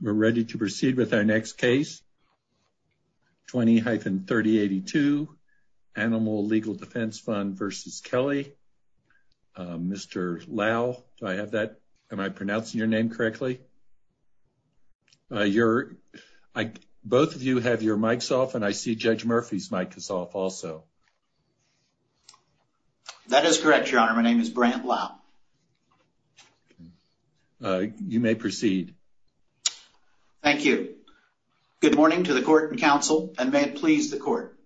We're ready to proceed with our next case 20-3082, Animal Legal Defense Fund v. Kelly. Mr. Lau, do I have that? Am I pronouncing your name correctly? Both of you have your mics off and I see Judge Murphy's mic is off also. That is correct, Your Honor. My name is Brant Lau. You may proceed. Thank you. Good morning to the Court and Counsel, and may it please the Court.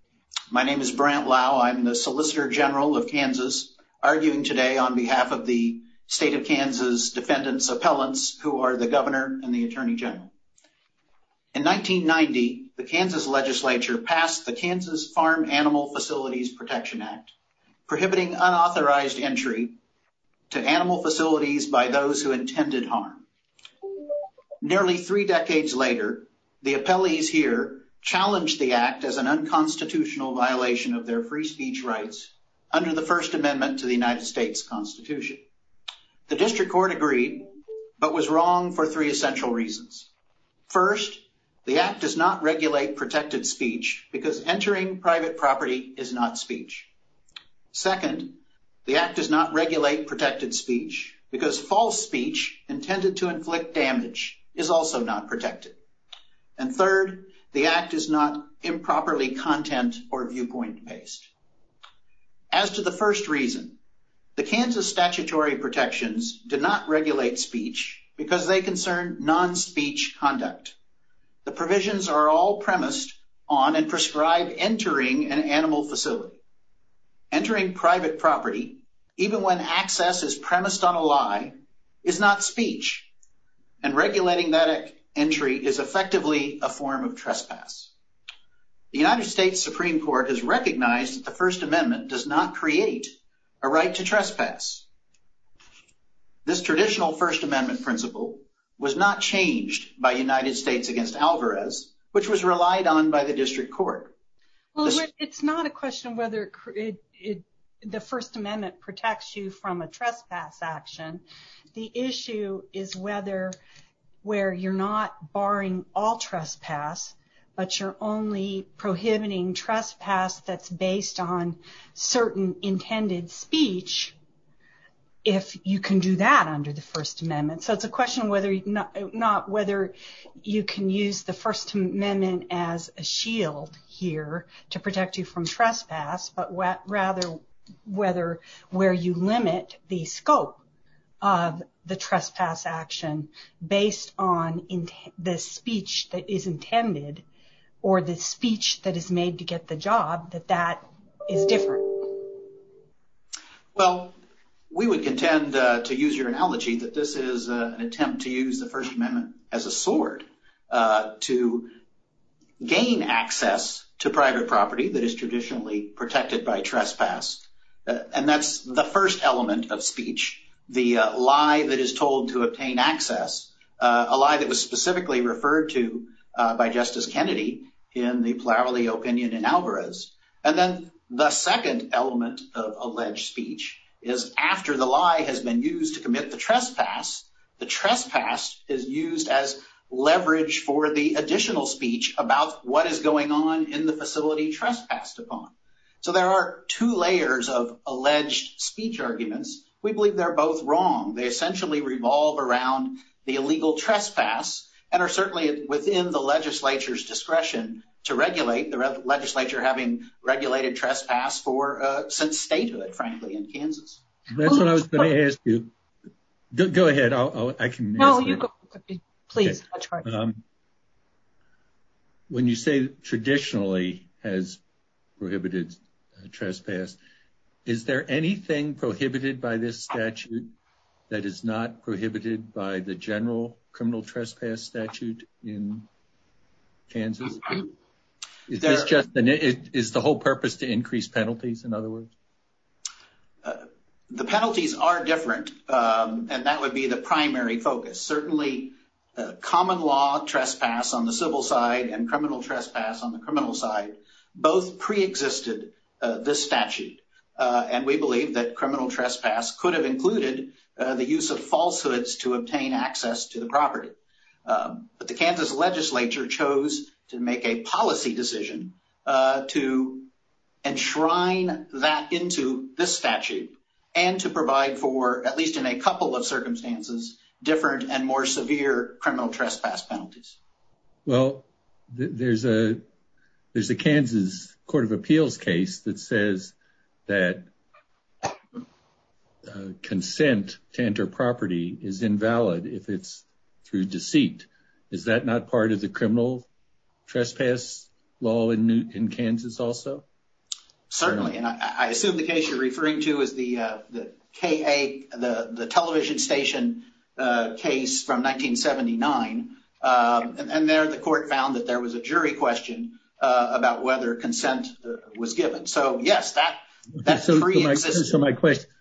My name is Brant Lau. I'm the Solicitor General of Kansas, arguing today on behalf of the State of Kansas Defendants' Appellants, who are the Governor and the Attorney General. In 1990, the Kansas Legislature passed the Kansas Farm Animal Facilities Protection Act, prohibiting unauthorized entry to animal facilities by those who intended harm. Nearly three decades later, the appellees here challenged the Act as an unconstitutional violation of their free speech rights under the First Amendment to the United States Constitution. The District Court agreed, but was wrong for three essential reasons. First, the Act does not regulate protected speech because entering private property is not speech. Second, the Act does not regulate protected speech because false speech intended to inflict damage is also not protected. And third, the Act is not improperly content or viewpoint-based. As to the first reason, the Kansas statutory protections do not regulate speech because they concern non-speech conduct. The provisions are all premised on and prescribe entering an animal facility. Entering private property, even when access is premised on a lie, is not speech, and regulating that entry is effectively a form of trespass. The United States Supreme Court has recognized that the First Amendment does not create a right to trespass. This traditional First Amendment principle was not changed by United States v. Alvarez, which was relied on by the District Court. Well, it's not a question of whether the First Amendment protects you from a trespass action. The issue is whether where you're not barring all trespass, but you're only prohibiting trespass that's based on certain intended speech, if you can do that under the First Amendment. So it's a question of whether you can use the First Amendment as a shield here to protect you from trespass, but rather whether where you limit the scope of the trespass action based on the speech that is intended or the speech that is made to get the job, that that is different. Well, we would contend, to use your analogy, that this is an attempt to use the First Amendment as a sword to gain access to private property that is traditionally protected by trespass. And that's the first element of speech, the lie that is told to obtain access, a lie that was specifically referred to by Justice Kennedy in the Plowley opinion in Alvarez. And then the second element of alleged speech is after the lie has been used to commit the trespass, the trespass is used as leverage for the additional speech about what is going on in the facility trespassed upon. So there are two layers of alleged speech arguments. We believe they're both wrong. They essentially revolve around the illegal trespass and are certainly within the legislature's discretion to regulate, the legislature having regulated trespass since statehood, frankly, in Kansas. That's what I was going to ask you. Go ahead. No, you go. Please. When you say traditionally has prohibited trespass, is there anything prohibited by this statute that is not prohibited by the general criminal trespass statute in Kansas? It's just that it is the whole purpose to increase penalties. In other words, the penalties are different. And that would be the primary focus. Certainly, common law trespass on the civil side and criminal trespass on the criminal side both preexisted this statute. And we believe that criminal trespass could have included the use of falsehoods to obtain access to the property. But the Kansas legislature chose to make a policy decision to enshrine that into this statute and to provide for, at least in a couple of circumstances, different and more severe criminal trespass penalties. Well, there's a there's a Kansas Court of Appeals case that says that consent to enter property is invalid if it's through deceit. Is that not part of the criminal trespass law in Kansas also? Certainly. And I assume the case you're referring to is the K-8, the television station case from 1979. And there the court found that there was a jury question about whether consent was given. So, yes, that pre-existed.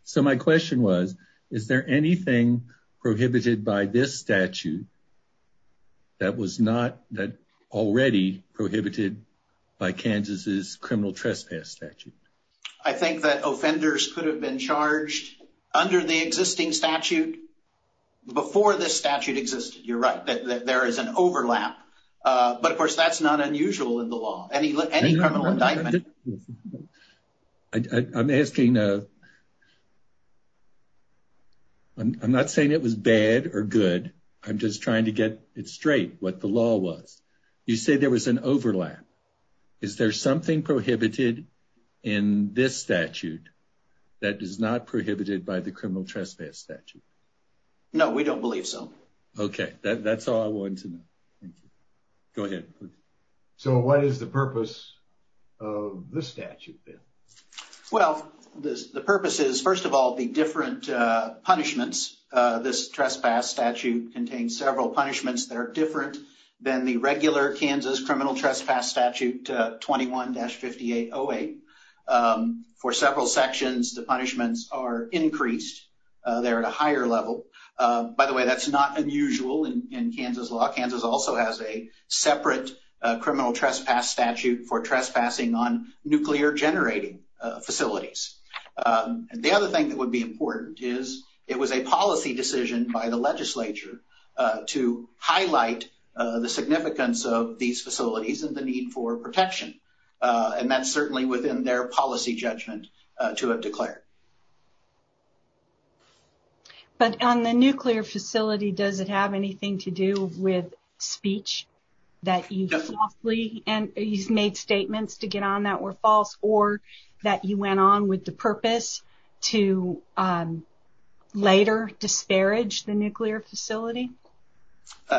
So my question was, is there anything prohibited by this statute that was not that already prohibited by Kansas's criminal trespass statute? I think that offenders could have been charged under the existing statute before this statute existed. You're right that there is an overlap. But, of course, that's not unusual in the law. Any criminal indictment. I'm asking. I'm not saying it was bad or good. I'm just trying to get it straight, what the law was. You say there was an overlap. Is there something prohibited in this statute that is not prohibited by the criminal trespass statute? No, we don't believe so. OK, that's all I want to know. Go ahead. So what is the purpose of this statute then? Well, the purpose is, first of all, the different punishments. This trespass statute contains several punishments that are different than the regular Kansas criminal trespass statute 21-5808. For several sections, the punishments are increased. They're at a higher level. By the way, that's not unusual in Kansas law. Kansas also has a separate criminal trespass statute for trespassing on nuclear generating facilities. And the other thing that would be important is it was a policy decision by the legislature to highlight the significance of these facilities and the need for protection. And that's certainly within their policy judgment to have declared. But on the nuclear facility, does it have anything to do with speech that you made statements to get on that were false or that you went on with the purpose to later disparage the nuclear facility?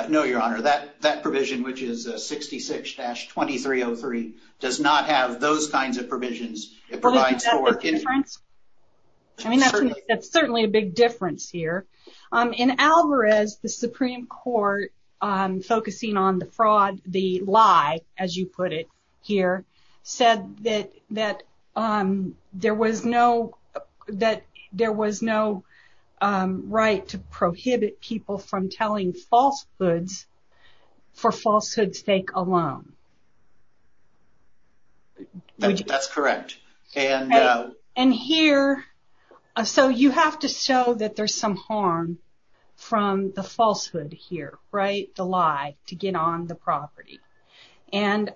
No, Your Honor, that provision, which is 66-2303, does not have those kinds of provisions. I mean, that's certainly a big difference here. In Alvarez, the Supreme Court, focusing on the fraud, the lie, as you put it here, said that there was no right to prohibit people from telling falsehoods for falsehood's sake alone. That's correct. And here, so you have to show that there's some harm from the falsehood here, right? The lie to get on the property. And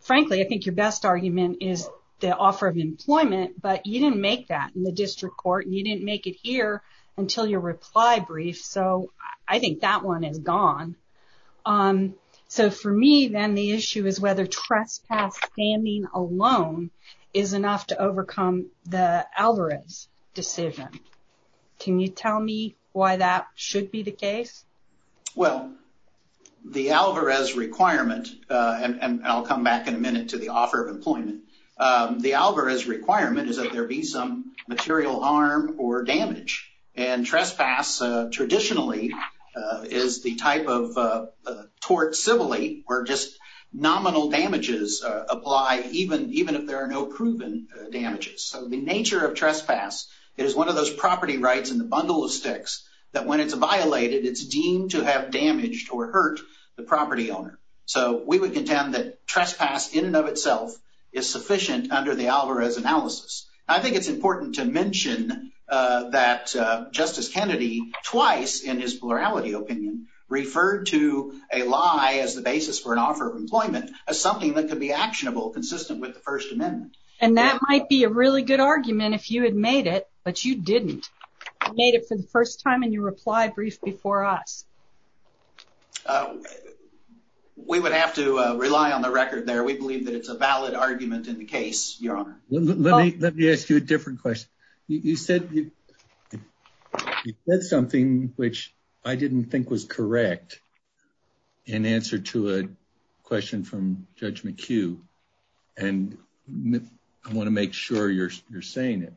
frankly, I think your best argument is the offer of employment, but you didn't make that in the district court. You didn't make it here until your reply brief. So I think that one is gone. So for me, then, the issue is whether trespass standing alone is enough to overcome the Alvarez decision. Can you tell me why that should be the case? Well, the Alvarez requirement, and I'll come back in a minute to the offer of employment. The Alvarez requirement is that there be some material harm or damage. And trespass, traditionally, is the type of tort civilly where just nominal damages apply even if there are no proven damages. So the nature of trespass is one of those property rights in the bundle of sticks that when it's violated, it's deemed to have damaged or hurt the property owner. So we would contend that trespass in and of itself is sufficient under the Alvarez analysis. I think it's important to mention that Justice Kennedy, twice in his plurality opinion, referred to a lie as the basis for an offer of employment as something that could be actionable consistent with the First Amendment. And that might be a really good argument if you had made it, but you didn't. You made it for the first time in your reply brief before us. We would have to rely on the record there. We believe that it's a valid argument in the case, Your Honor. Let me ask you a different question. You said something which I didn't think was correct in answer to a question from Judge McHugh. And I want to make sure you're saying it.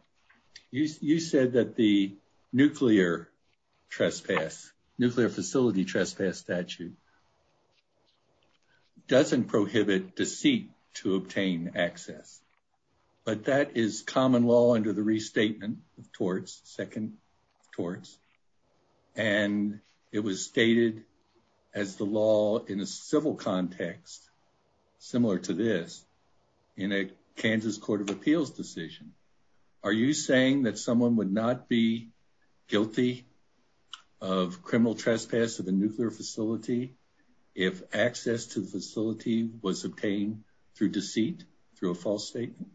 You said that the nuclear facility trespass statute doesn't prohibit deceit to obtain access. But that is common law under the restatement of torts, second torts. And it was stated as the law in a civil context similar to this in a Kansas Court of Appeals decision. Are you saying that someone would not be guilty of criminal trespass of a nuclear facility if access to the facility was obtained through deceit, through a false statement?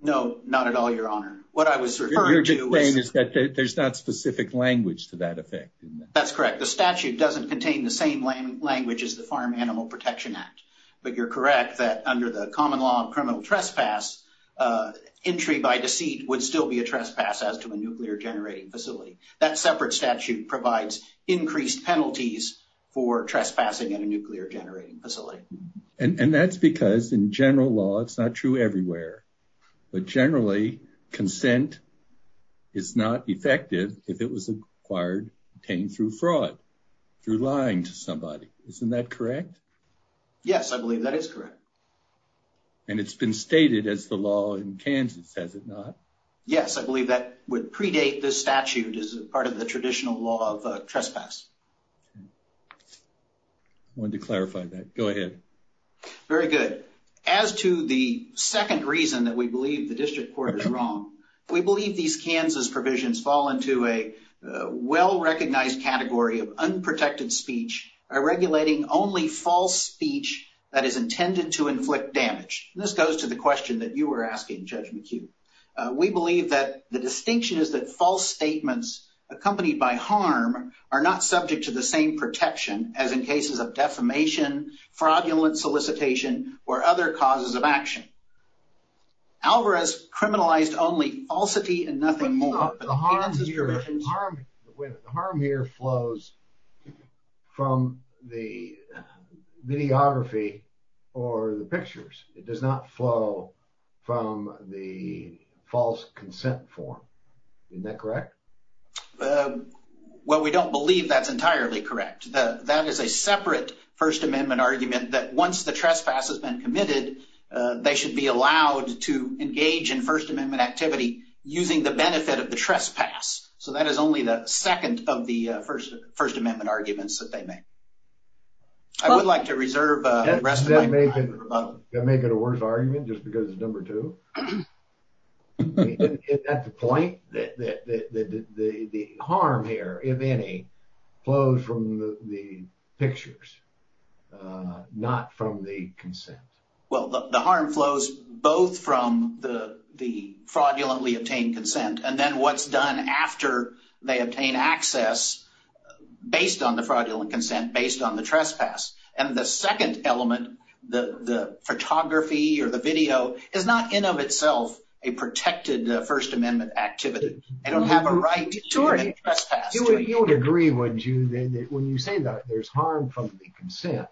No, not at all, Your Honor. What I was referring to was... What you're saying is that there's not specific language to that effect. That's correct. The statute doesn't contain the same language as the Farm Animal Protection Act. But you're correct that under the common law of criminal trespass, entry by deceit would still be a trespass as to a nuclear generating facility. That separate statute provides increased penalties for trespassing at a nuclear generating facility. And that's because in general law, it's not true everywhere. But generally, consent is not effective if it was obtained through fraud, through lying to somebody. Isn't that correct? Yes, I believe that is correct. And it's been stated as the law in Kansas, has it not? Yes, I believe that would predate this statute as part of the traditional law of trespass. I wanted to clarify that. Go ahead. Very good. As to the second reason that we believe the district court is wrong, we believe these Kansas provisions fall into a well-recognized category of unprotected speech, regulating only false speech that is intended to inflict damage. This goes to the question that you were asking, Judge McHugh. We believe that the distinction is that false statements accompanied by harm are not subject to the same protection as in cases of defamation, fraudulent solicitation, or other causes of action. Alvarez criminalized only falsity and nothing more. But the harm here flows from the videography or the pictures. It does not flow from the false consent form. Isn't that correct? Well, we don't believe that's entirely correct. That is a separate First Amendment argument that once the trespass has been committed, they should be allowed to engage in First Amendment activity using the benefit of the trespass. So that is only the second of the First Amendment arguments that they make. I would like to reserve the rest of my time for both. Does that make it a worse argument just because it's number two? Is that the point? The harm here, if any, flows from the pictures, not from the consent. Well, the harm flows both from the fraudulently obtained consent and then what's done after they obtain access based on the fraudulent consent, based on the trespass. And the second element, the photography or the video, is not in of itself a protected First Amendment activity. They don't have a right to commit trespass. You would agree, wouldn't you, that when you say that there's harm from the consent,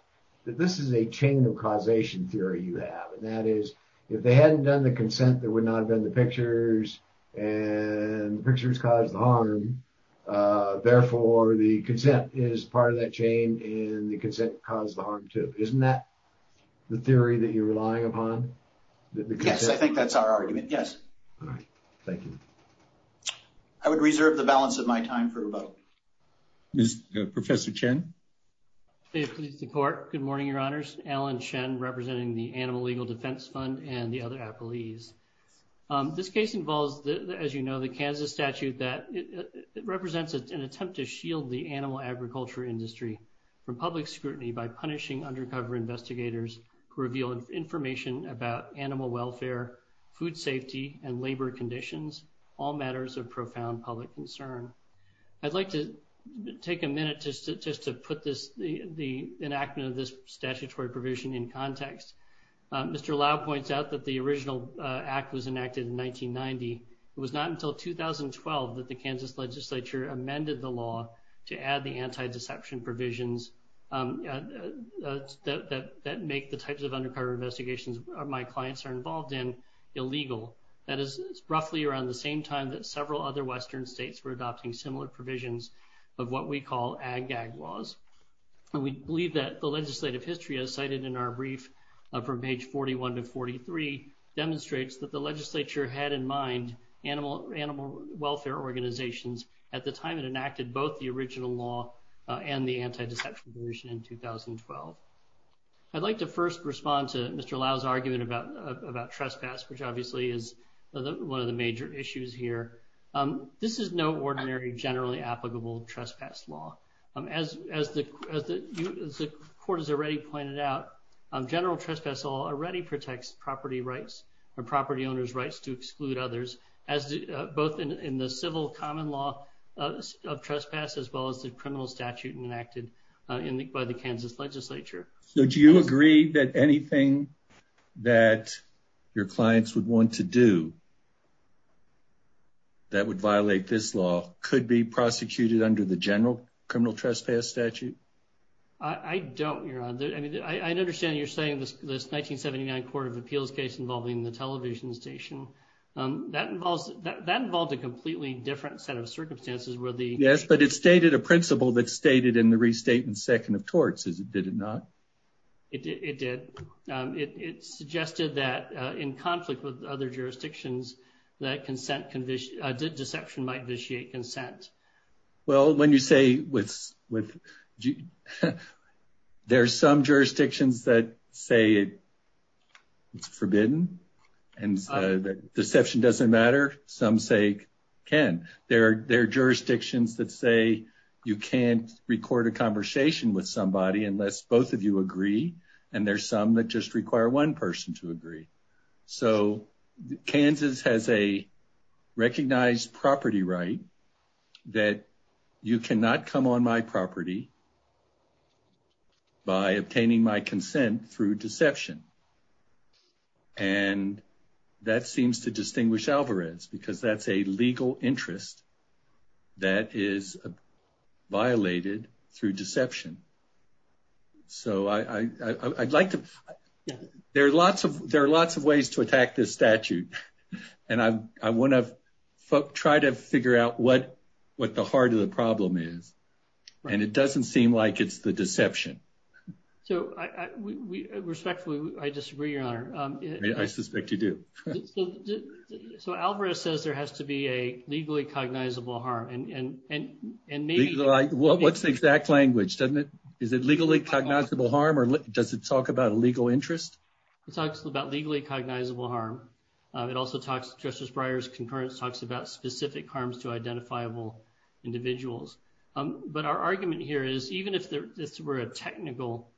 that this is a chain of causation theory you have. That is, if they hadn't done the consent, there would not have been the pictures and the pictures caused the harm. Therefore, the consent is part of that chain and the consent caused the harm, too. Isn't that the theory that you're relying upon? Yes, I think that's our argument. Yes. All right. Thank you. I would reserve the balance of my time for both. Professor Chen? Good morning, Your Honors. Alan Chen representing the Animal Legal Defense Fund and the other appellees. This case involves, as you know, the Kansas statute that represents an attempt to shield the animal agriculture industry from public scrutiny by punishing undercover investigators who reveal information about animal welfare, food safety and labor conditions, all matters of profound public concern. I'd like to take a minute just to put the enactment of this statutory provision in context. Mr. Lau points out that the original act was enacted in 1990. It was not until 2012 that the Kansas legislature amended the law to add the anti-deception provisions that make the types of undercover investigations my clients are involved in illegal. That is roughly around the same time that several other Western states were adopting similar provisions of what we call ag-gag laws. We believe that the legislative history, as cited in our brief from page 41 to 43, demonstrates that the legislature had in mind animal welfare organizations at the time it enacted both the original law and the anti-deception provision in 2012. I'd like to first respond to Mr. Lau's argument about trespass, which obviously is one of the major issues here. This is no ordinary generally applicable trespass law. As the court has already pointed out, general trespass law already protects property rights or property owners' rights to exclude others, both in the civil common law of trespass as well as the criminal statute enacted by the Kansas legislature. So do you agree that anything that your clients would want to do that would violate this law could be prosecuted under the general criminal trespass statute? I don't, Your Honor. I mean, I understand you're saying this 1979 court of appeals case involving the television station. That involves a completely different set of circumstances. Yes, but it stated a principle that's stated in the restatement second of torts, did it not? It did. It suggested that in conflict with other jurisdictions that deception might vitiate consent. Well, when you say there are some jurisdictions that say it's forbidden and deception doesn't matter. Some say it can. There are jurisdictions that say you can't record a conversation with somebody unless both of you agree. And there are some that just require one person to agree. So Kansas has a recognized property right that you cannot come on my property by obtaining my consent through deception. And that seems to distinguish Alvarez because that's a legal interest that is violated through deception. So I'd like to. There are lots of there are lots of ways to attack this statute. And I want to try to figure out what what the heart of the problem is. And it doesn't seem like it's the deception. So respectfully, I disagree, Your Honor. I suspect you do. So Alvarez says there has to be a legally cognizable harm. Well, what's the exact language? Is it legally cognizable harm or does it talk about a legal interest? It talks about legally cognizable harm. It also talks. Justice Breyer's concurrence talks about specific harms to identifiable individuals. But our argument here is even if this were a technical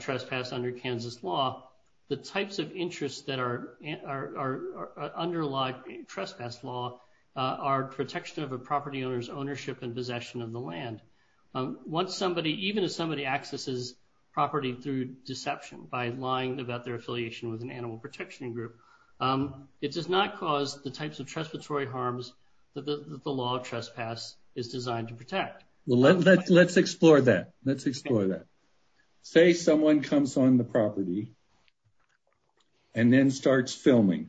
trespass under Kansas law, the types of interests that are underlie trespass law are protection of a property owner's ownership and possession of the land. Once somebody even if somebody accesses property through deception by lying about their affiliation with an animal protection group, it does not cause the types of trespass or harms that the law of trespass is designed to protect. Well, let's explore that. Let's explore that. Say someone comes on the property and then starts filming.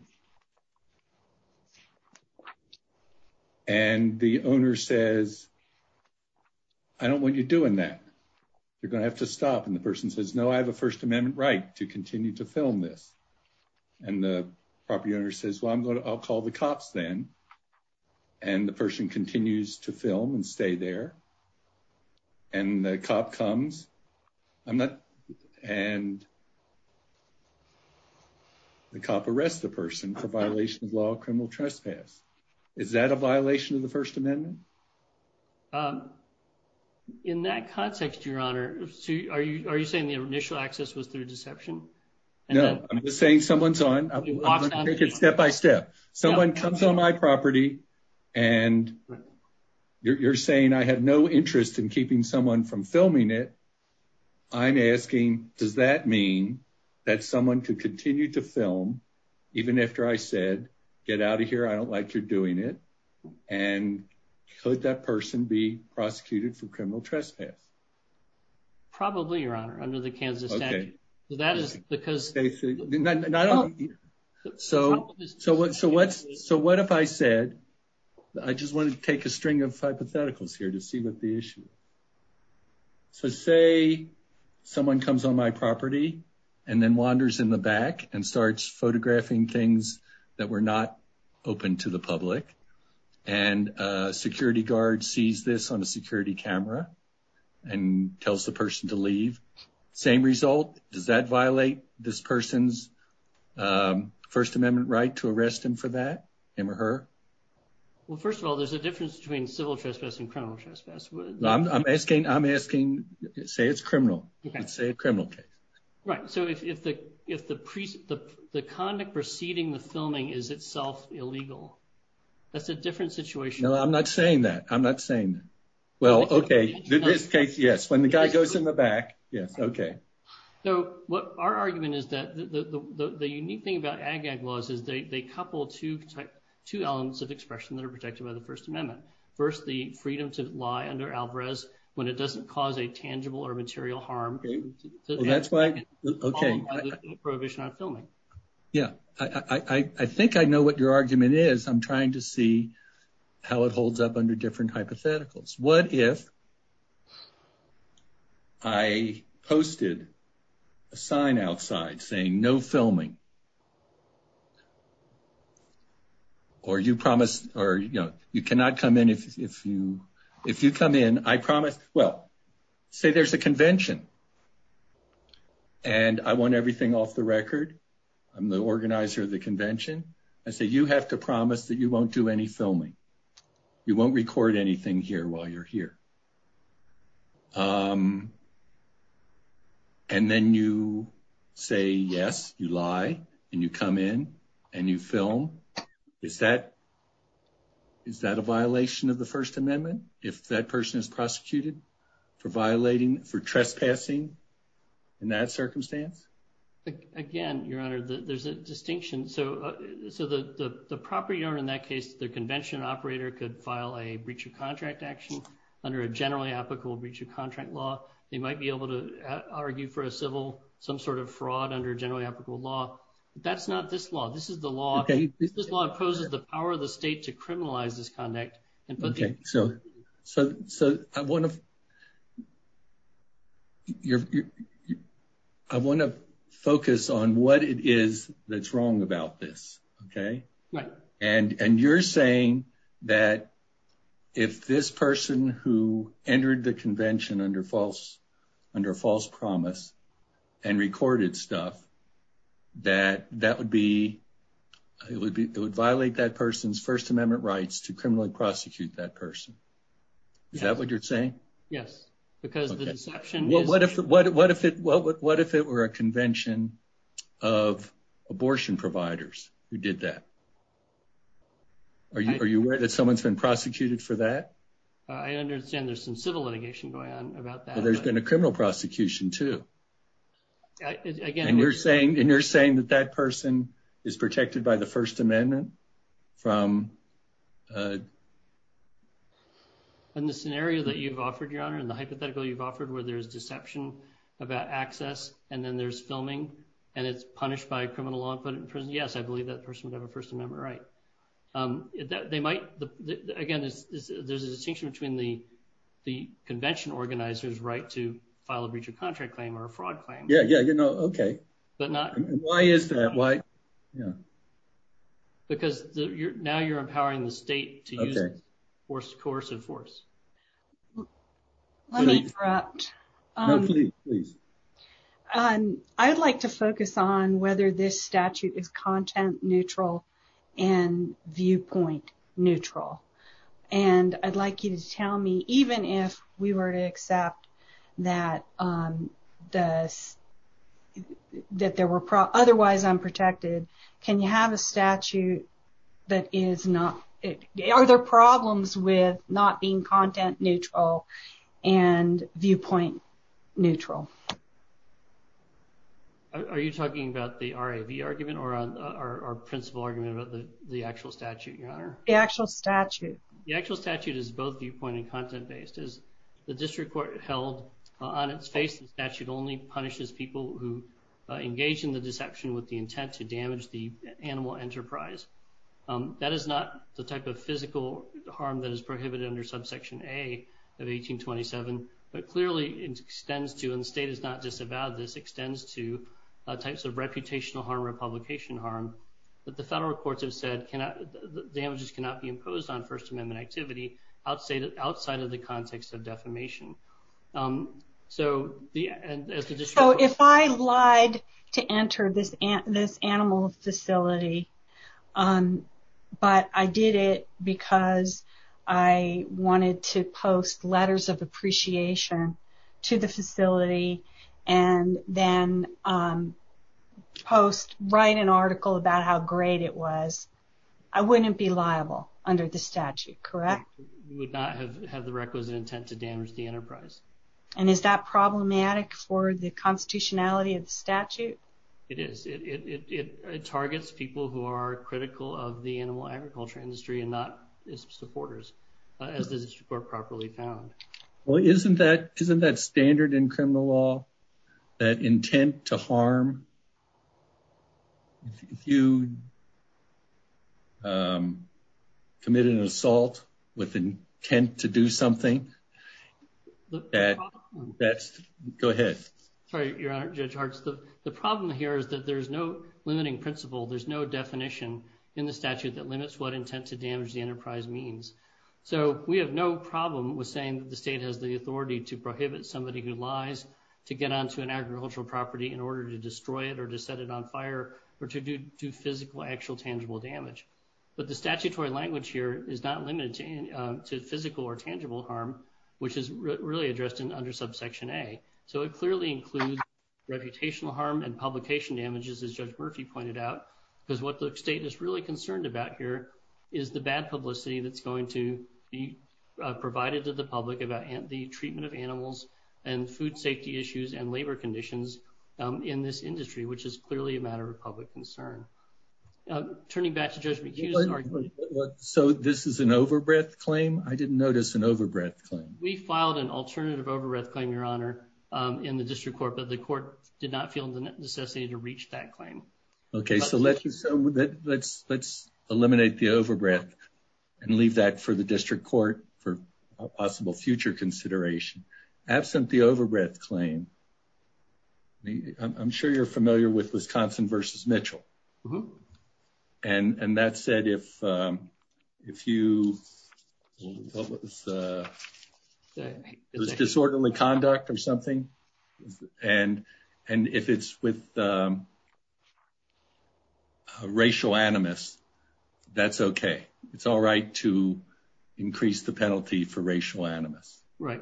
And the owner says, I don't want you doing that. You're going to have to stop. And the person says, no, I have a First Amendment right to continue to film this. And the property owner says, well, I'll call the cops then. And the person continues to film and stay there. And the cop comes. And the cop arrests the person for violation of law of criminal trespass. Is that a violation of the First Amendment? In that context, Your Honor, are you saying the initial access was through deception? No, I'm just saying someone's on. It's step by step. Someone comes on my property and you're saying I have no interest in keeping someone from filming it. I'm asking, does that mean that someone could continue to film even after I said, get out of here? I don't like you're doing it. And could that person be prosecuted for criminal trespass? Probably, Your Honor, under the Kansas statute. So what if I said, I just want to take a string of hypotheticals here to see what the issue is. So say someone comes on my property and then wanders in the back and starts photographing things that were not open to the public. And a security guard sees this on a security camera and tells the person to leave. Same result? Does that violate this person's First Amendment right to arrest him for that, him or her? Well, first of all, there's a difference between civil trespass and criminal trespass. I'm asking, say it's criminal. Say it's a criminal case. Right. So if the conduct preceding the filming is itself illegal, that's a different situation. No, I'm not saying that. I'm not saying that. Well, OK. In this case, yes. When the guy goes in the back. Yes. OK. So what our argument is that the unique thing about AG-AG laws is they couple two elements of expression that are protected by the First Amendment. First, the freedom to lie under Alvarez when it doesn't cause a tangible or material harm. That's why. OK. Prohibition on filming. Yeah. I think I know what your argument is. I'm trying to see how it holds up under different hypotheticals. What if I posted a sign outside saying no filming? Or you promised or you cannot come in if you if you come in, I promise. Well, say there's a convention. And I want everything off the record. I'm the organizer of the convention. I say you have to promise that you won't do any filming. You won't record anything here while you're here. And then you say, yes, you lie and you come in and you film. Is that. Is that a violation of the First Amendment if that person is prosecuted for violating for trespassing in that circumstance? Again, Your Honor, there's a distinction. So so the property owner in that case, the convention operator could file a breach of contract action under a generally applicable breach of contract law. They might be able to argue for a civil some sort of fraud under generally applicable law. That's not this law. This is the law. This law opposes the power of the state to criminalize this conduct. OK, so so so I want to. I want to focus on what it is that's wrong about this. OK. And and you're saying that if this person who entered the convention under false under false promise and recorded stuff, that that would be it would be it would violate that person's First Amendment rights to criminally prosecute that person. Is that what you're saying? Yes, because the deception. What if what what if it what what if it were a convention of abortion providers who did that? Are you are you aware that someone's been prosecuted for that? I understand there's some civil litigation going on about that. There's been a criminal prosecution, too. Again, you're saying and you're saying that that person is protected by the First Amendment from. And the scenario that you've offered your honor and the hypothetical you've offered where there's deception about access and then there's filming and it's punished by criminal law and put it in prison. Yes, I believe that person would have a First Amendment right. They might. Again, there's a distinction between the the convention organizers right to file a breach of contract claim or a fraud claim. Yeah, yeah. OK, but not. Why is that? Why? Because now you're empowering the state to force coercive force. Let me interrupt, please. I'd like to focus on whether this statute is content neutral and viewpoint neutral. And I'd like you to tell me, even if we were to accept that does that there were otherwise unprotected. Can you have a statute that is not? Are there problems with not being content neutral and viewpoint neutral? Are you talking about the argument or our principal argument about the actual statute? The actual statute, the actual statute is both viewpoint and content based is the district court held on its face. The statute only punishes people who engage in the deception with the intent to damage the animal enterprise. That is not the type of physical harm that is prohibited under subsection a of 1827. But clearly it extends to and the state is not disavowed. This extends to types of reputational harm, republication harm that the federal courts have said can damages cannot be imposed on First Amendment activity outside of outside of the context of defamation. So if I lied to enter this animal facility, but I did it because I wanted to post letters of appreciation to the facility and then post, write an article about how great it was, I wouldn't be liable under the statute, correct? Would not have had the requisite intent to damage the enterprise. And is that problematic for the constitutionality of statute? It is. It targets people who are critical of the animal agriculture industry and not supporters as this report properly found. Well, isn't that isn't that standard in criminal law that intent to harm? If you. Committed an assault with intent to do something that that's go ahead. Sorry, your honor. Judge hearts. The problem here is that there's no limiting principle. There's no definition in the statute that limits what intent to damage the enterprise means. So we have no problem with saying that the state has the authority to prohibit somebody who lies to get onto an agricultural property in order to destroy it or to set it on fire or to do to physical, actual, tangible damage. But the statutory language here is not limited to physical or tangible harm, which is really addressed in under subsection a. So it clearly includes reputational harm and publication damages, as Judge Murphy pointed out, because what the state is really concerned about here is the bad publicity that's going to be provided to the public about the treatment of animals and food safety issues and labor conditions in this industry, which is clearly a matter of public concern. Turning back to judge. So this is an overbred claim. I didn't notice an overbred claim. We filed an alternative overbred claim, your honor, in the district court, but the court did not feel the necessity to reach that claim. OK, so let's let's let's eliminate the overbred and leave that for the district court for possible future consideration. Absent the overbred claim. I'm sure you're familiar with Wisconsin versus Mitchell. And that said, if if you. What was the disorderly conduct or something? And and if it's with racial animus, that's OK. It's all right to increase the penalty for racial animus. Right.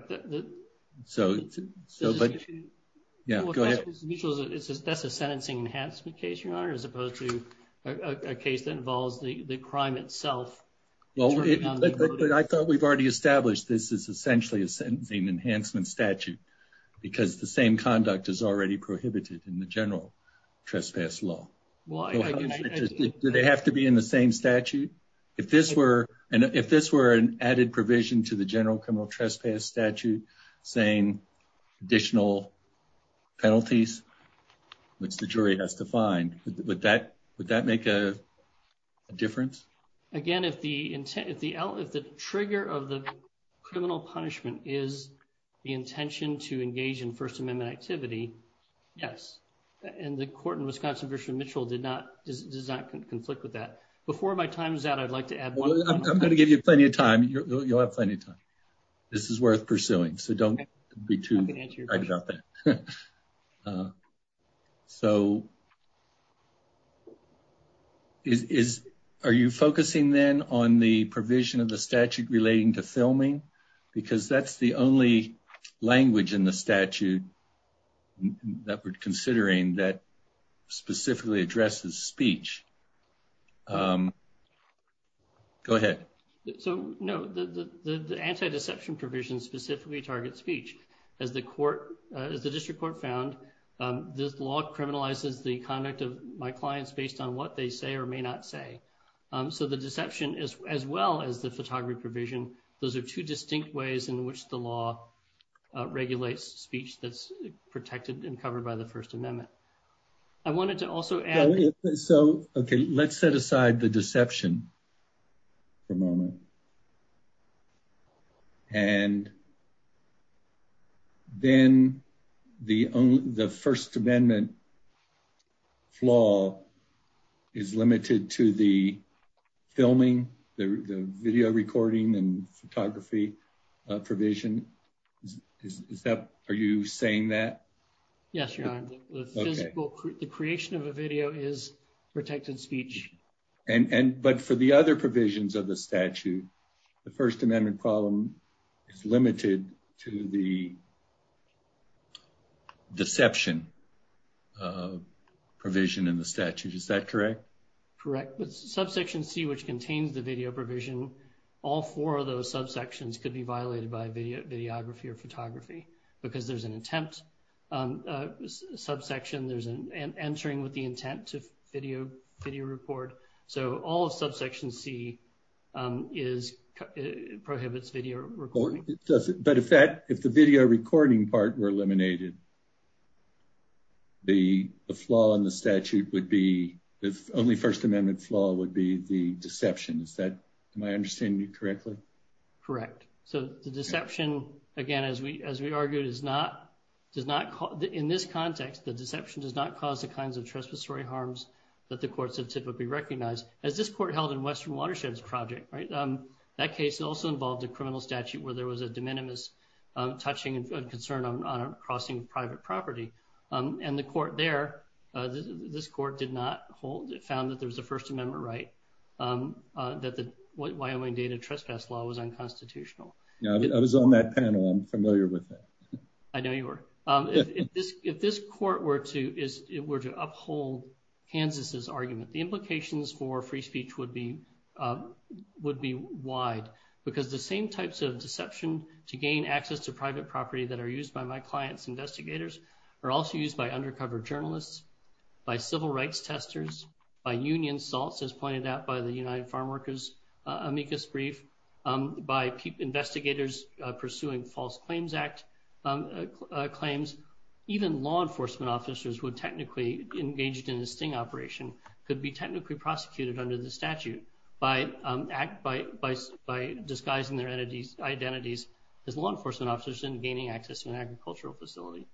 So so. But yeah, go ahead. That's a sentencing enhancement case, your honor, as opposed to a case that involves the crime itself. Well, I thought we've already established this is essentially a sentencing enhancement statute because the same conduct is already prohibited in the general trespass law. Do they have to be in the same statute? If this were and if this were an added provision to the general criminal trespass statute saying additional penalties, which the jury has to find, would that would that make a difference? Again, if the if the if the trigger of the criminal punishment is the intention to engage in First Amendment activity. Yes. And the court in Wisconsin version Mitchell did not does not conflict with that. Before my time is out, I'd like to add, I'm going to give you plenty of time. You'll have plenty of time. This is worth pursuing. So don't be too excited about that. So. Is are you focusing then on the provision of the statute relating to filming? Because that's the only language in the statute that we're considering that specifically addresses speech. Go ahead. So, no, the anti deception provision specifically target speech as the court is the district court found this law criminalizes the conduct of my clients based on what they say or may not say. So the deception is as well as the photography provision. Those are two distinct ways in which the law regulates speech that's protected and covered by the First Amendment. I wanted to also add. So, okay, let's set aside the deception for a moment. And then the the First Amendment flaw is limited to the filming the video recording and photography provision is that are you saying that. The creation of a video is protected speech. And but for the other provisions of the statute, the First Amendment problem is limited to the deception provision in the statute. Is that correct? Correct. But subsection C, which contains the video provision, all four of those subsections could be violated by video videography or photography because there's an attempt subsection. There's an entering with the intent to video video report. So all of subsection C is prohibits video recording. But if that if the video recording part were eliminated. The flaw in the statute would be the only First Amendment flaw would be the deception is that my understanding correctly. Correct. So the deception. Again, as we as we argued is not does not in this context, the deception does not cause the kinds of And the court there. This court did not hold it found that there was a First Amendment right that the Wyoming Data Trespass Law was unconstitutional. I was on that panel. I'm familiar with that. I know you were. If this if this court were to is it were to uphold Kansas's argument, the implications for free speech would be would be wide because the same types of deception to gain access to private property that are used by my clients investigators are also used by undercover journalists by civil rights testers by union salts as pointed out by the United Farm Workers amicus brief. By investigators pursuing false claims act claims, even law enforcement officers would technically engaged in a sting operation could be technically prosecuted under the statute by act by by by disguising their entities identities as law enforcement officers and gaining access to an agricultural facility.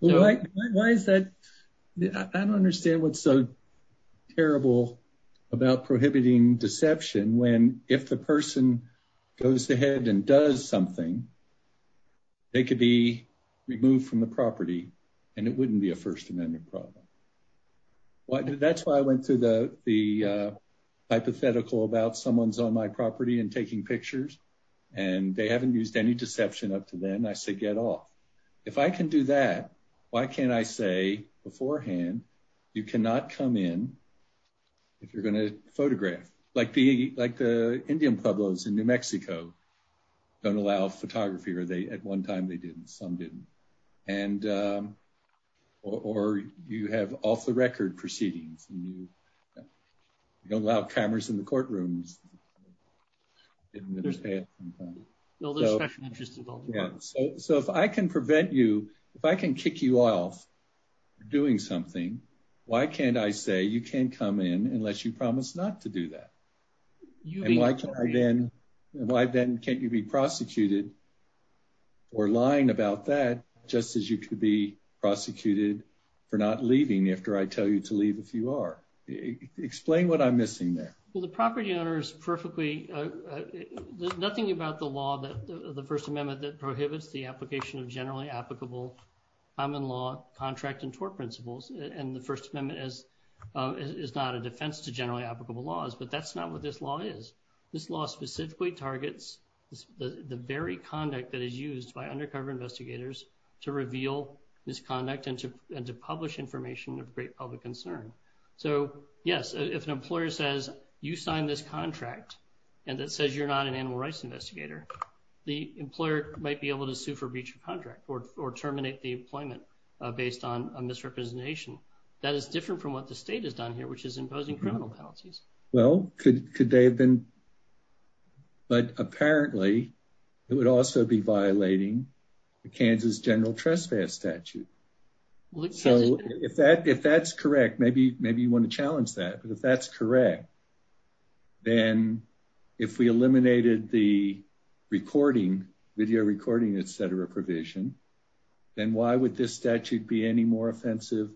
Why is that? I don't understand what's so terrible about prohibiting deception when if the person goes ahead and does something, they could be removed from the property and it wouldn't be a First Amendment problem. That's why I went to the hypothetical about someone's on my property and taking pictures and they haven't used any deception up to then. I said, get off. If I can do that. Why can't I say beforehand? You cannot come in. If you're going to photograph like the like the Indian Pueblos in New Mexico, don't allow photography or they at one time they didn't some didn't and or you have off the record proceedings and you don't allow cameras in the courtrooms. So if I can prevent you, if I can kick you off doing something, why can't I say you can come in unless you promise not to do that? Then why then can't you be prosecuted or lying about that? Just as you could be prosecuted for not leaving after I tell you to leave. If you are explain what I'm missing there. Well, the property owners perfectly. There's nothing about the law that the First Amendment that prohibits the application of generally applicable. I'm in law contract and tort principles and the First Amendment is is not a defense to generally applicable laws, but that's not what this law is. This law specifically targets the very conduct that is used by undercover investigators to reveal misconduct and to publish information of great public concern. So, yes, if an employer says you sign this contract, and that says you're not an animal rights investigator, the employer might be able to sue for breach of contract or terminate the employment based on a misrepresentation. That is different from what the state has done here, which is imposing criminal penalties. Well, could they have been? But apparently it would also be violating the Kansas General Trespass statute. So if that if that's correct, maybe maybe you want to challenge that. But if that's correct. Then if we eliminated the recording, video recording, et cetera, provision, then why would this statute be any more offensive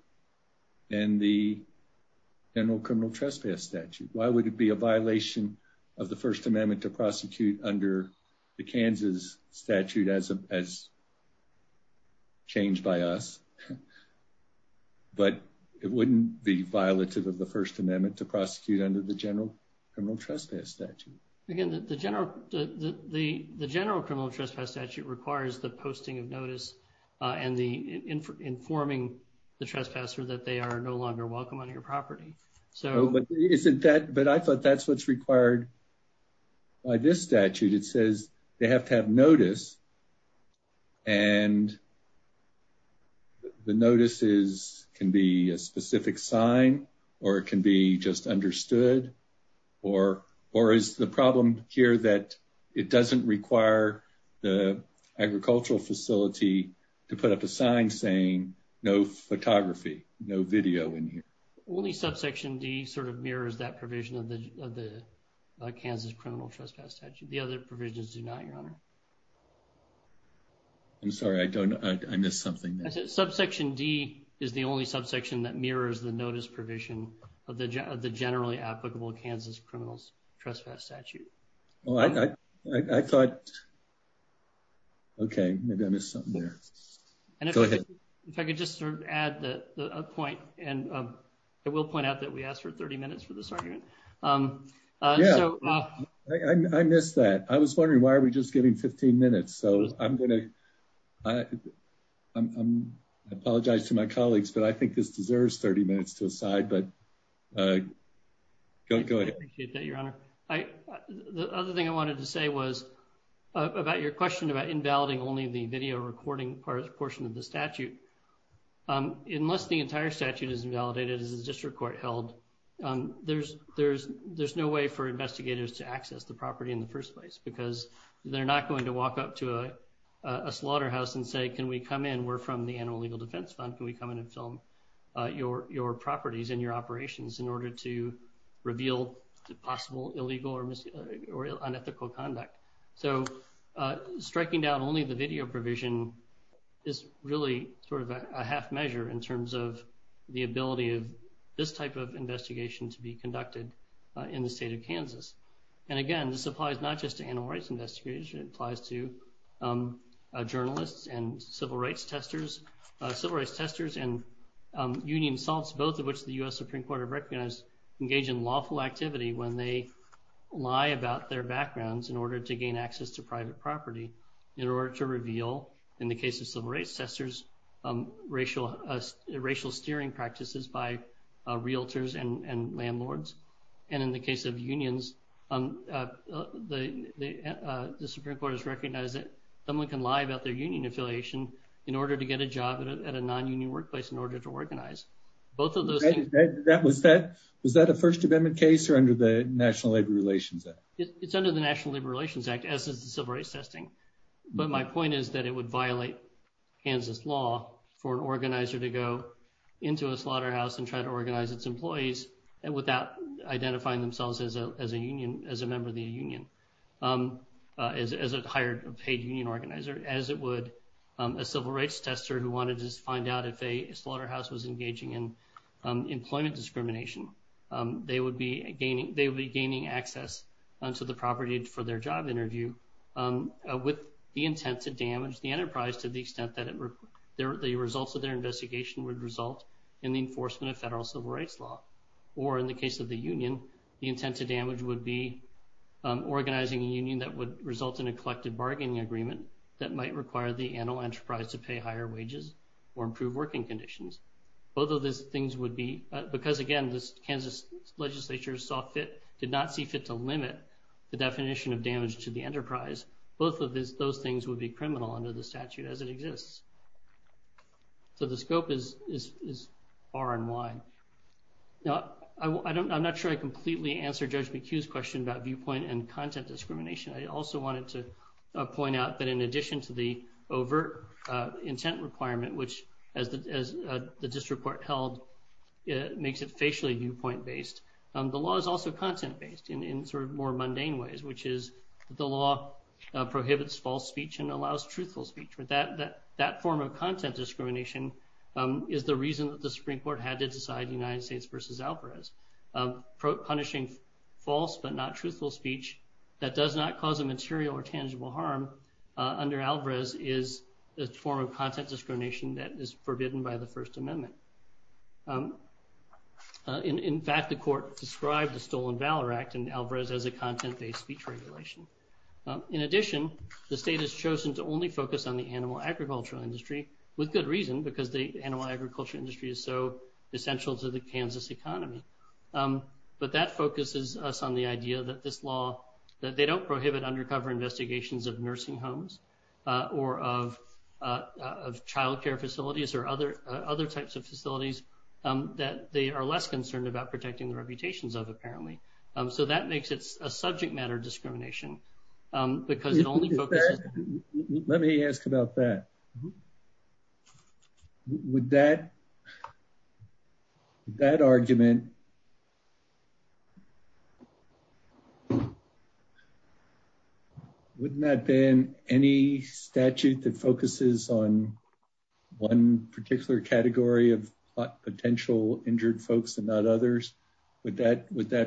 than the general criminal trespass statute? Why would it be a violation of the First Amendment to prosecute under the Kansas statute as as. But it wouldn't be violative of the First Amendment to prosecute under the general criminal trespass statute. Again, the general the the general criminal trespass statute requires the posting of notice and the informing the trespasser that they are no longer welcome on your property. So isn't that but I thought that's what's required. By this statute, it says they have to have notice. And the notices can be a specific sign or it can be just understood or or is the problem here that it doesn't require the agricultural facility to put up a sign saying no photography, no video in here. Only subsection D sort of mirrors that provision of the Kansas criminal trespass statute. The other provisions do not, Your Honor. I'm sorry, I don't know. I missed something. Subsection D is the only subsection that mirrors the notice provision of the of the generally applicable Kansas criminals trespass statute. Well, I thought. Okay, maybe I missed something there. Go ahead. If I could just add a point, and I will point out that we asked for 30 minutes for this argument. Yeah, I missed that. I was wondering why are we just getting 15 minutes. So I'm going to apologize to my colleagues, but I think this deserves 30 minutes to aside. But go ahead. Your Honor. The other thing I wanted to say was about your question about invalidating only the video recording portion of the statute. Unless the entire statute is invalidated as a district court held, there's no way for investigators to access the property in the first place because they're not going to walk up to a slaughterhouse and say, can we come in, we're from the Animal Legal Defense Fund, can we come in and film your properties and your operations in order to reveal possible illegal or unethical conduct. So striking down only the video provision is really sort of a half measure in terms of the ability of this type of investigation to be conducted in the state of Kansas. And again, this applies not just to animal rights investigators, it applies to journalists and civil rights testers and union assaults, both of which the U.S. Supreme Court has recognized engage in lawful activity when they lie about their backgrounds in order to gain access to private property in order to reveal, in the case of civil rights testers, racial steering practices by realtors and landlords. And in the case of unions, the Supreme Court has recognized that someone can lie about their union affiliation in order to get a job at a non-union workplace in order to organize. Was that a First Amendment case or under the National Labor Relations Act? It's under the National Labor Relations Act, as is the civil rights testing. But my point is that it would violate Kansas law for an organizer to go into a slaughterhouse and try to organize its employees without identifying themselves as a member of the union, as a hired paid union organizer, as it would a civil rights tester who wanted to find out if a slaughterhouse was engaging in employment discrimination. They would be gaining access to the property for their job interview with the intent to damage the enterprise to the extent that the results of their investigation would result in the enforcement of federal civil rights law. Or in the case of the union, the intent to damage would be organizing a union that would result in a collective bargaining agreement that might require the animal enterprise to pay higher wages or improve working conditions. Because again, the Kansas legislature did not see fit to limit the definition of damage to the enterprise, both of those things would be criminal under the statute as it exists. So the scope is far and wide. Now, I'm not sure I completely answered Judge McHugh's question about viewpoint and content discrimination. I also wanted to point out that in addition to the overt intent requirement, which as the district court held, makes it facially viewpoint-based, the law is also content-based in sort of more mundane ways, which is the law prohibits false speech and allows truthful speech. But that form of content discrimination is the reason that the Supreme Court had to decide United States versus Alvarez. Punishing false but not truthful speech that does not cause a material or tangible harm under Alvarez is a form of content discrimination that is forbidden by the First Amendment. In fact, the court described the Stolen Valor Act and Alvarez as a content-based speech regulation. In addition, the state has chosen to only focus on the animal agricultural industry, with good reason, because the animal agriculture industry is so essential to the Kansas economy. But that focuses us on the idea that this law, that they don't prohibit undercover investigations of nursing homes or of childcare facilities or other types of facilities that they are less concerned about protecting the reputations of, apparently. So that makes it a subject matter discrimination, because it only focuses…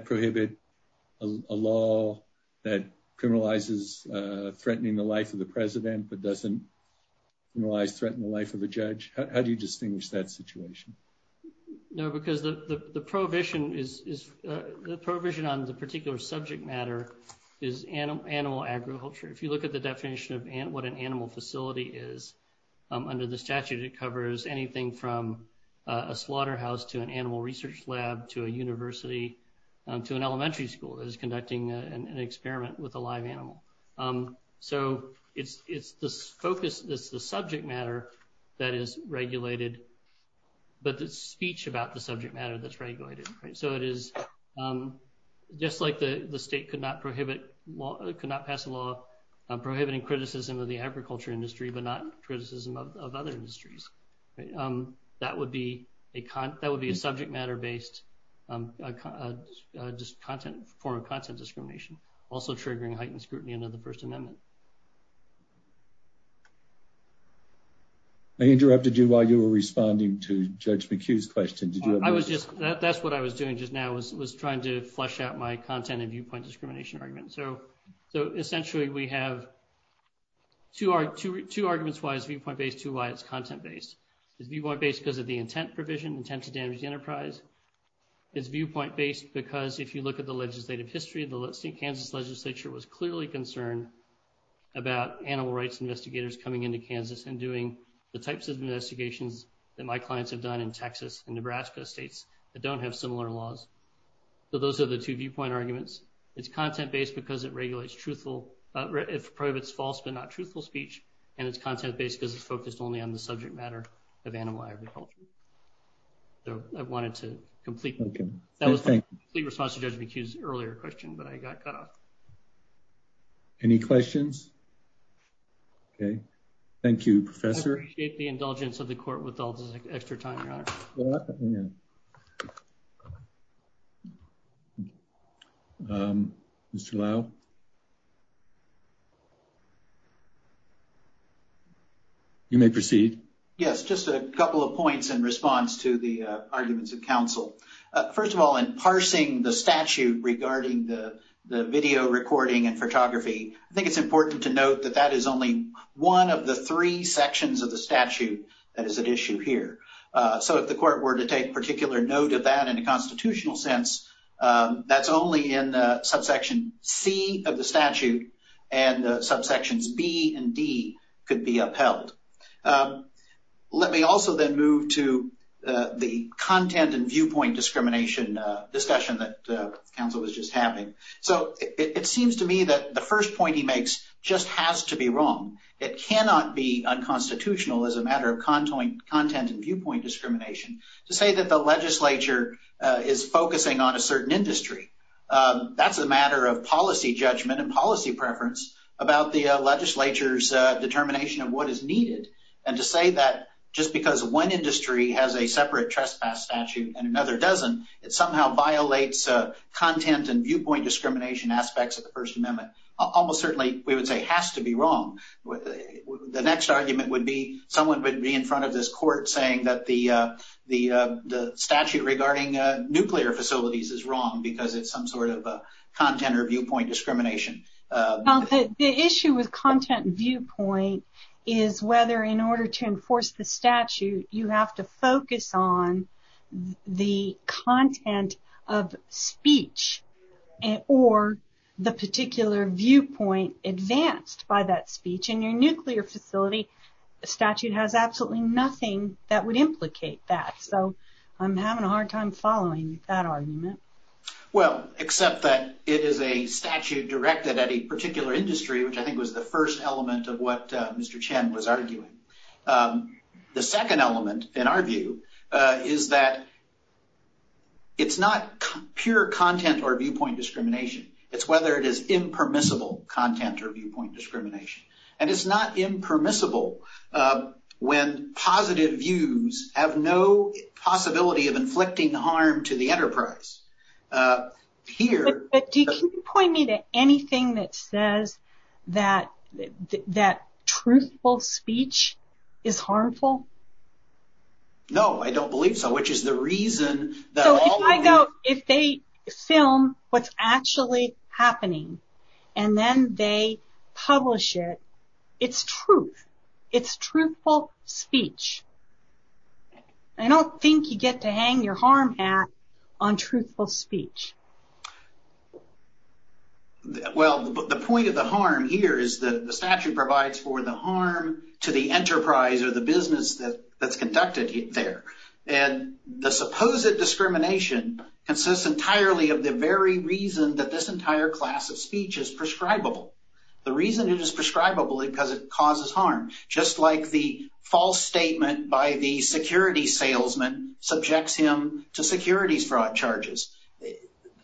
prohibit a law that criminalizes threatening the life of the president but doesn't criminalize threatening the life of a judge. How do you distinguish that situation? No, because the prohibition on the particular subject matter is animal agriculture. If you look at the definition of what an animal facility is, under the statute it covers anything from a slaughterhouse to an animal research lab to a university to an elementary school that is conducting an experiment with a live animal. So it's the focus, it's the subject matter that is regulated, but it's speech about the subject matter that's regulated. So it is just like the state could not pass a law prohibiting criticism of the agriculture industry but not criticism of other industries. That would be a subject matter-based form of content discrimination, also triggering heightened scrutiny under the First Amendment. I interrupted you while you were responding to Judge McHugh's question. That's what I was doing just now, was trying to flesh out my content and viewpoint discrimination argument. So essentially we have two arguments why it's viewpoint-based, two why it's content-based. It's viewpoint-based because of the intent provision, intent to damage the enterprise. It's viewpoint-based because if you look at the legislative history, the Kansas legislature was clearly concerned about animal rights investigators coming into Kansas and doing the types of investigations that my clients have done in Texas and Nebraska. States that don't have similar laws. So those are the two viewpoint arguments. It's content-based because it regulates truthful, it prohibits false but not truthful speech. And it's content-based because it's focused only on the subject matter of animal agriculture. So I wanted to completely, that was the response to Judge McHugh's earlier question, but I got cut off. Any questions? Okay, thank you, Professor. I appreciate the indulgence of the court with all this extra time, Your Honor. Thank you. Mr. Lau? You may proceed. Yes, just a couple of points in response to the arguments of counsel. First of all, in parsing the statute regarding the video recording and photography, I think it's important to note that that is only one of the three sections of the statute that is at issue here. So if the court were to take particular note of that in a constitutional sense, that's only in subsection C of the statute and subsections B and D could be upheld. Let me also then move to the content and viewpoint discrimination discussion that counsel was just having. So it seems to me that the first point he makes just has to be wrong. It cannot be unconstitutional as a matter of content and viewpoint discrimination. To say that the legislature is focusing on a certain industry, that's a matter of policy judgment and policy preference about the legislature's determination of what is needed. And to say that just because one industry has a separate trespass statute and another doesn't, it somehow violates content and viewpoint discrimination aspects of the First Amendment. Almost certainly we would say has to be wrong. The next argument would be someone would be in front of this court saying that the statute regarding nuclear facilities is wrong because it's some sort of content or viewpoint discrimination. The issue with content and viewpoint is whether in order to enforce the statute you have to focus on the content of speech or the particular viewpoint advanced by that speech. In your nuclear facility, the statute has absolutely nothing that would implicate that. So I'm having a hard time following that argument. Well, except that it is a statute directed at a particular industry, which I think was the first element of what Mr. Chen was arguing. The second element in our view is that it's not pure content or viewpoint discrimination. It's whether it is impermissible content or viewpoint discrimination. And it's not impermissible when positive views have no possibility of inflicting harm to the enterprise. But can you point me to anything that says that truthful speech is harmful? No, I don't believe so. So if they film what's actually happening and then they publish it, it's truth. It's truthful speech. I don't think you get to hang your harm hat on truthful speech. Well, the point of the harm here is that the statute provides for the harm to the enterprise or the business that's conducted there. And the supposed discrimination consists entirely of the very reason that this entire class of speech is prescribable. The reason it is prescribable is because it causes harm, just like the false statement by the security salesman subjects him to securities fraud charges.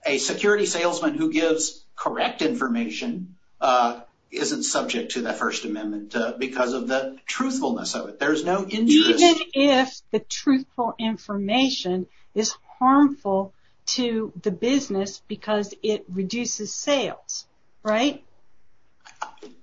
A security salesman who gives correct information isn't subject to the First Amendment because of the truthfulness of it. Even if the truthful information is harmful to the business because it reduces sales, right?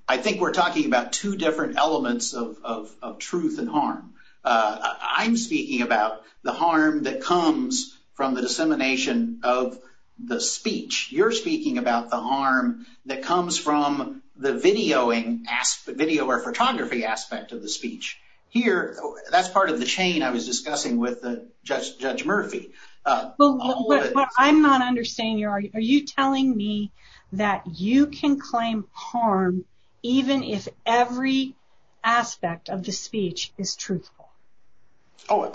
I think we're talking about two different elements of truth and harm. I'm speaking about the harm that comes from the dissemination of the speech. You're speaking about the harm that comes from the videoing, video or photography aspect of the speech. Here, that's part of the chain I was discussing with Judge Murphy. But I'm not understanding you. Are you telling me that you can claim harm even if every aspect of the speech is truthful? Oh,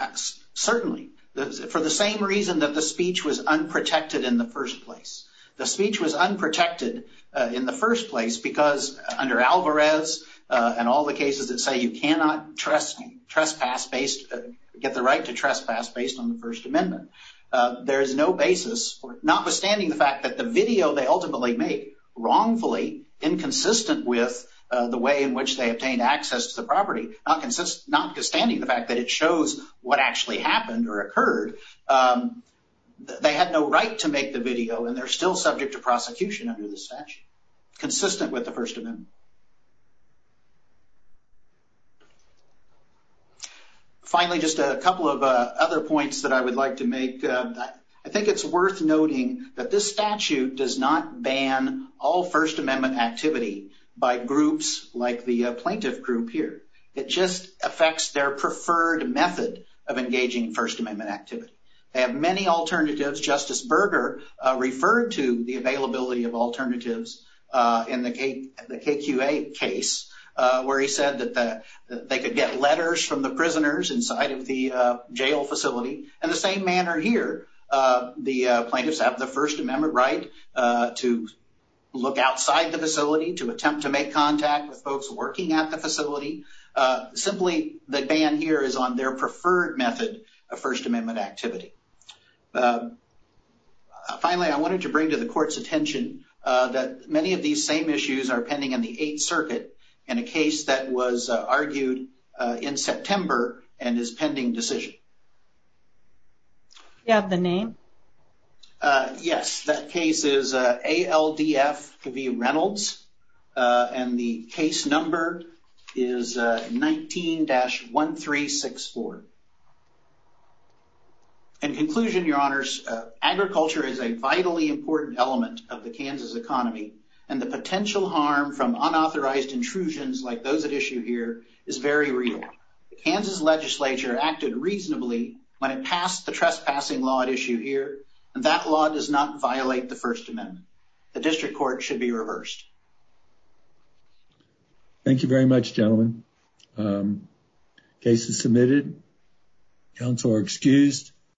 certainly. For the same reason that the speech was unprotected in the first place. The speech was unprotected in the first place because under Alvarez and all the cases that say you cannot get the right to trespass based on the First Amendment. There is no basis, notwithstanding the fact that the video they ultimately make wrongfully inconsistent with the way in which they obtain access to the property. Notwithstanding the fact that it shows what actually happened or occurred. They had no right to make the video and they're still subject to prosecution under the statute. Consistent with the First Amendment. Finally, just a couple of other points that I would like to make. I think it's worth noting that this statute does not ban all First Amendment activity by groups like the plaintiff group here. It just affects their preferred method of engaging in First Amendment activity. They have many alternatives. Justice Berger referred to the availability of alternatives in the KQA case where he said that they could get letters from the prisoners inside of the jail facility. In the same manner here, the plaintiffs have the First Amendment right to look outside the facility, to attempt to make contact with folks working at the facility. Simply, the ban here is on their preferred method of First Amendment activity. Finally, I wanted to bring to the court's attention that many of these same issues are pending in the Eighth Circuit in a case that was argued in September and is pending decision. Do you have the name? Yes, that case is ALDF v. Reynolds and the case number is 19-1364. In conclusion, your honors, agriculture is a vitally important element of the Kansas economy and the potential harm from unauthorized intrusions like those at issue here is very real. The Kansas legislature acted reasonably when it passed the trespassing law at issue here and that law does not violate the First Amendment. The district court should be reversed. Thank you very much, gentlemen. Case is submitted. Counsel are excused.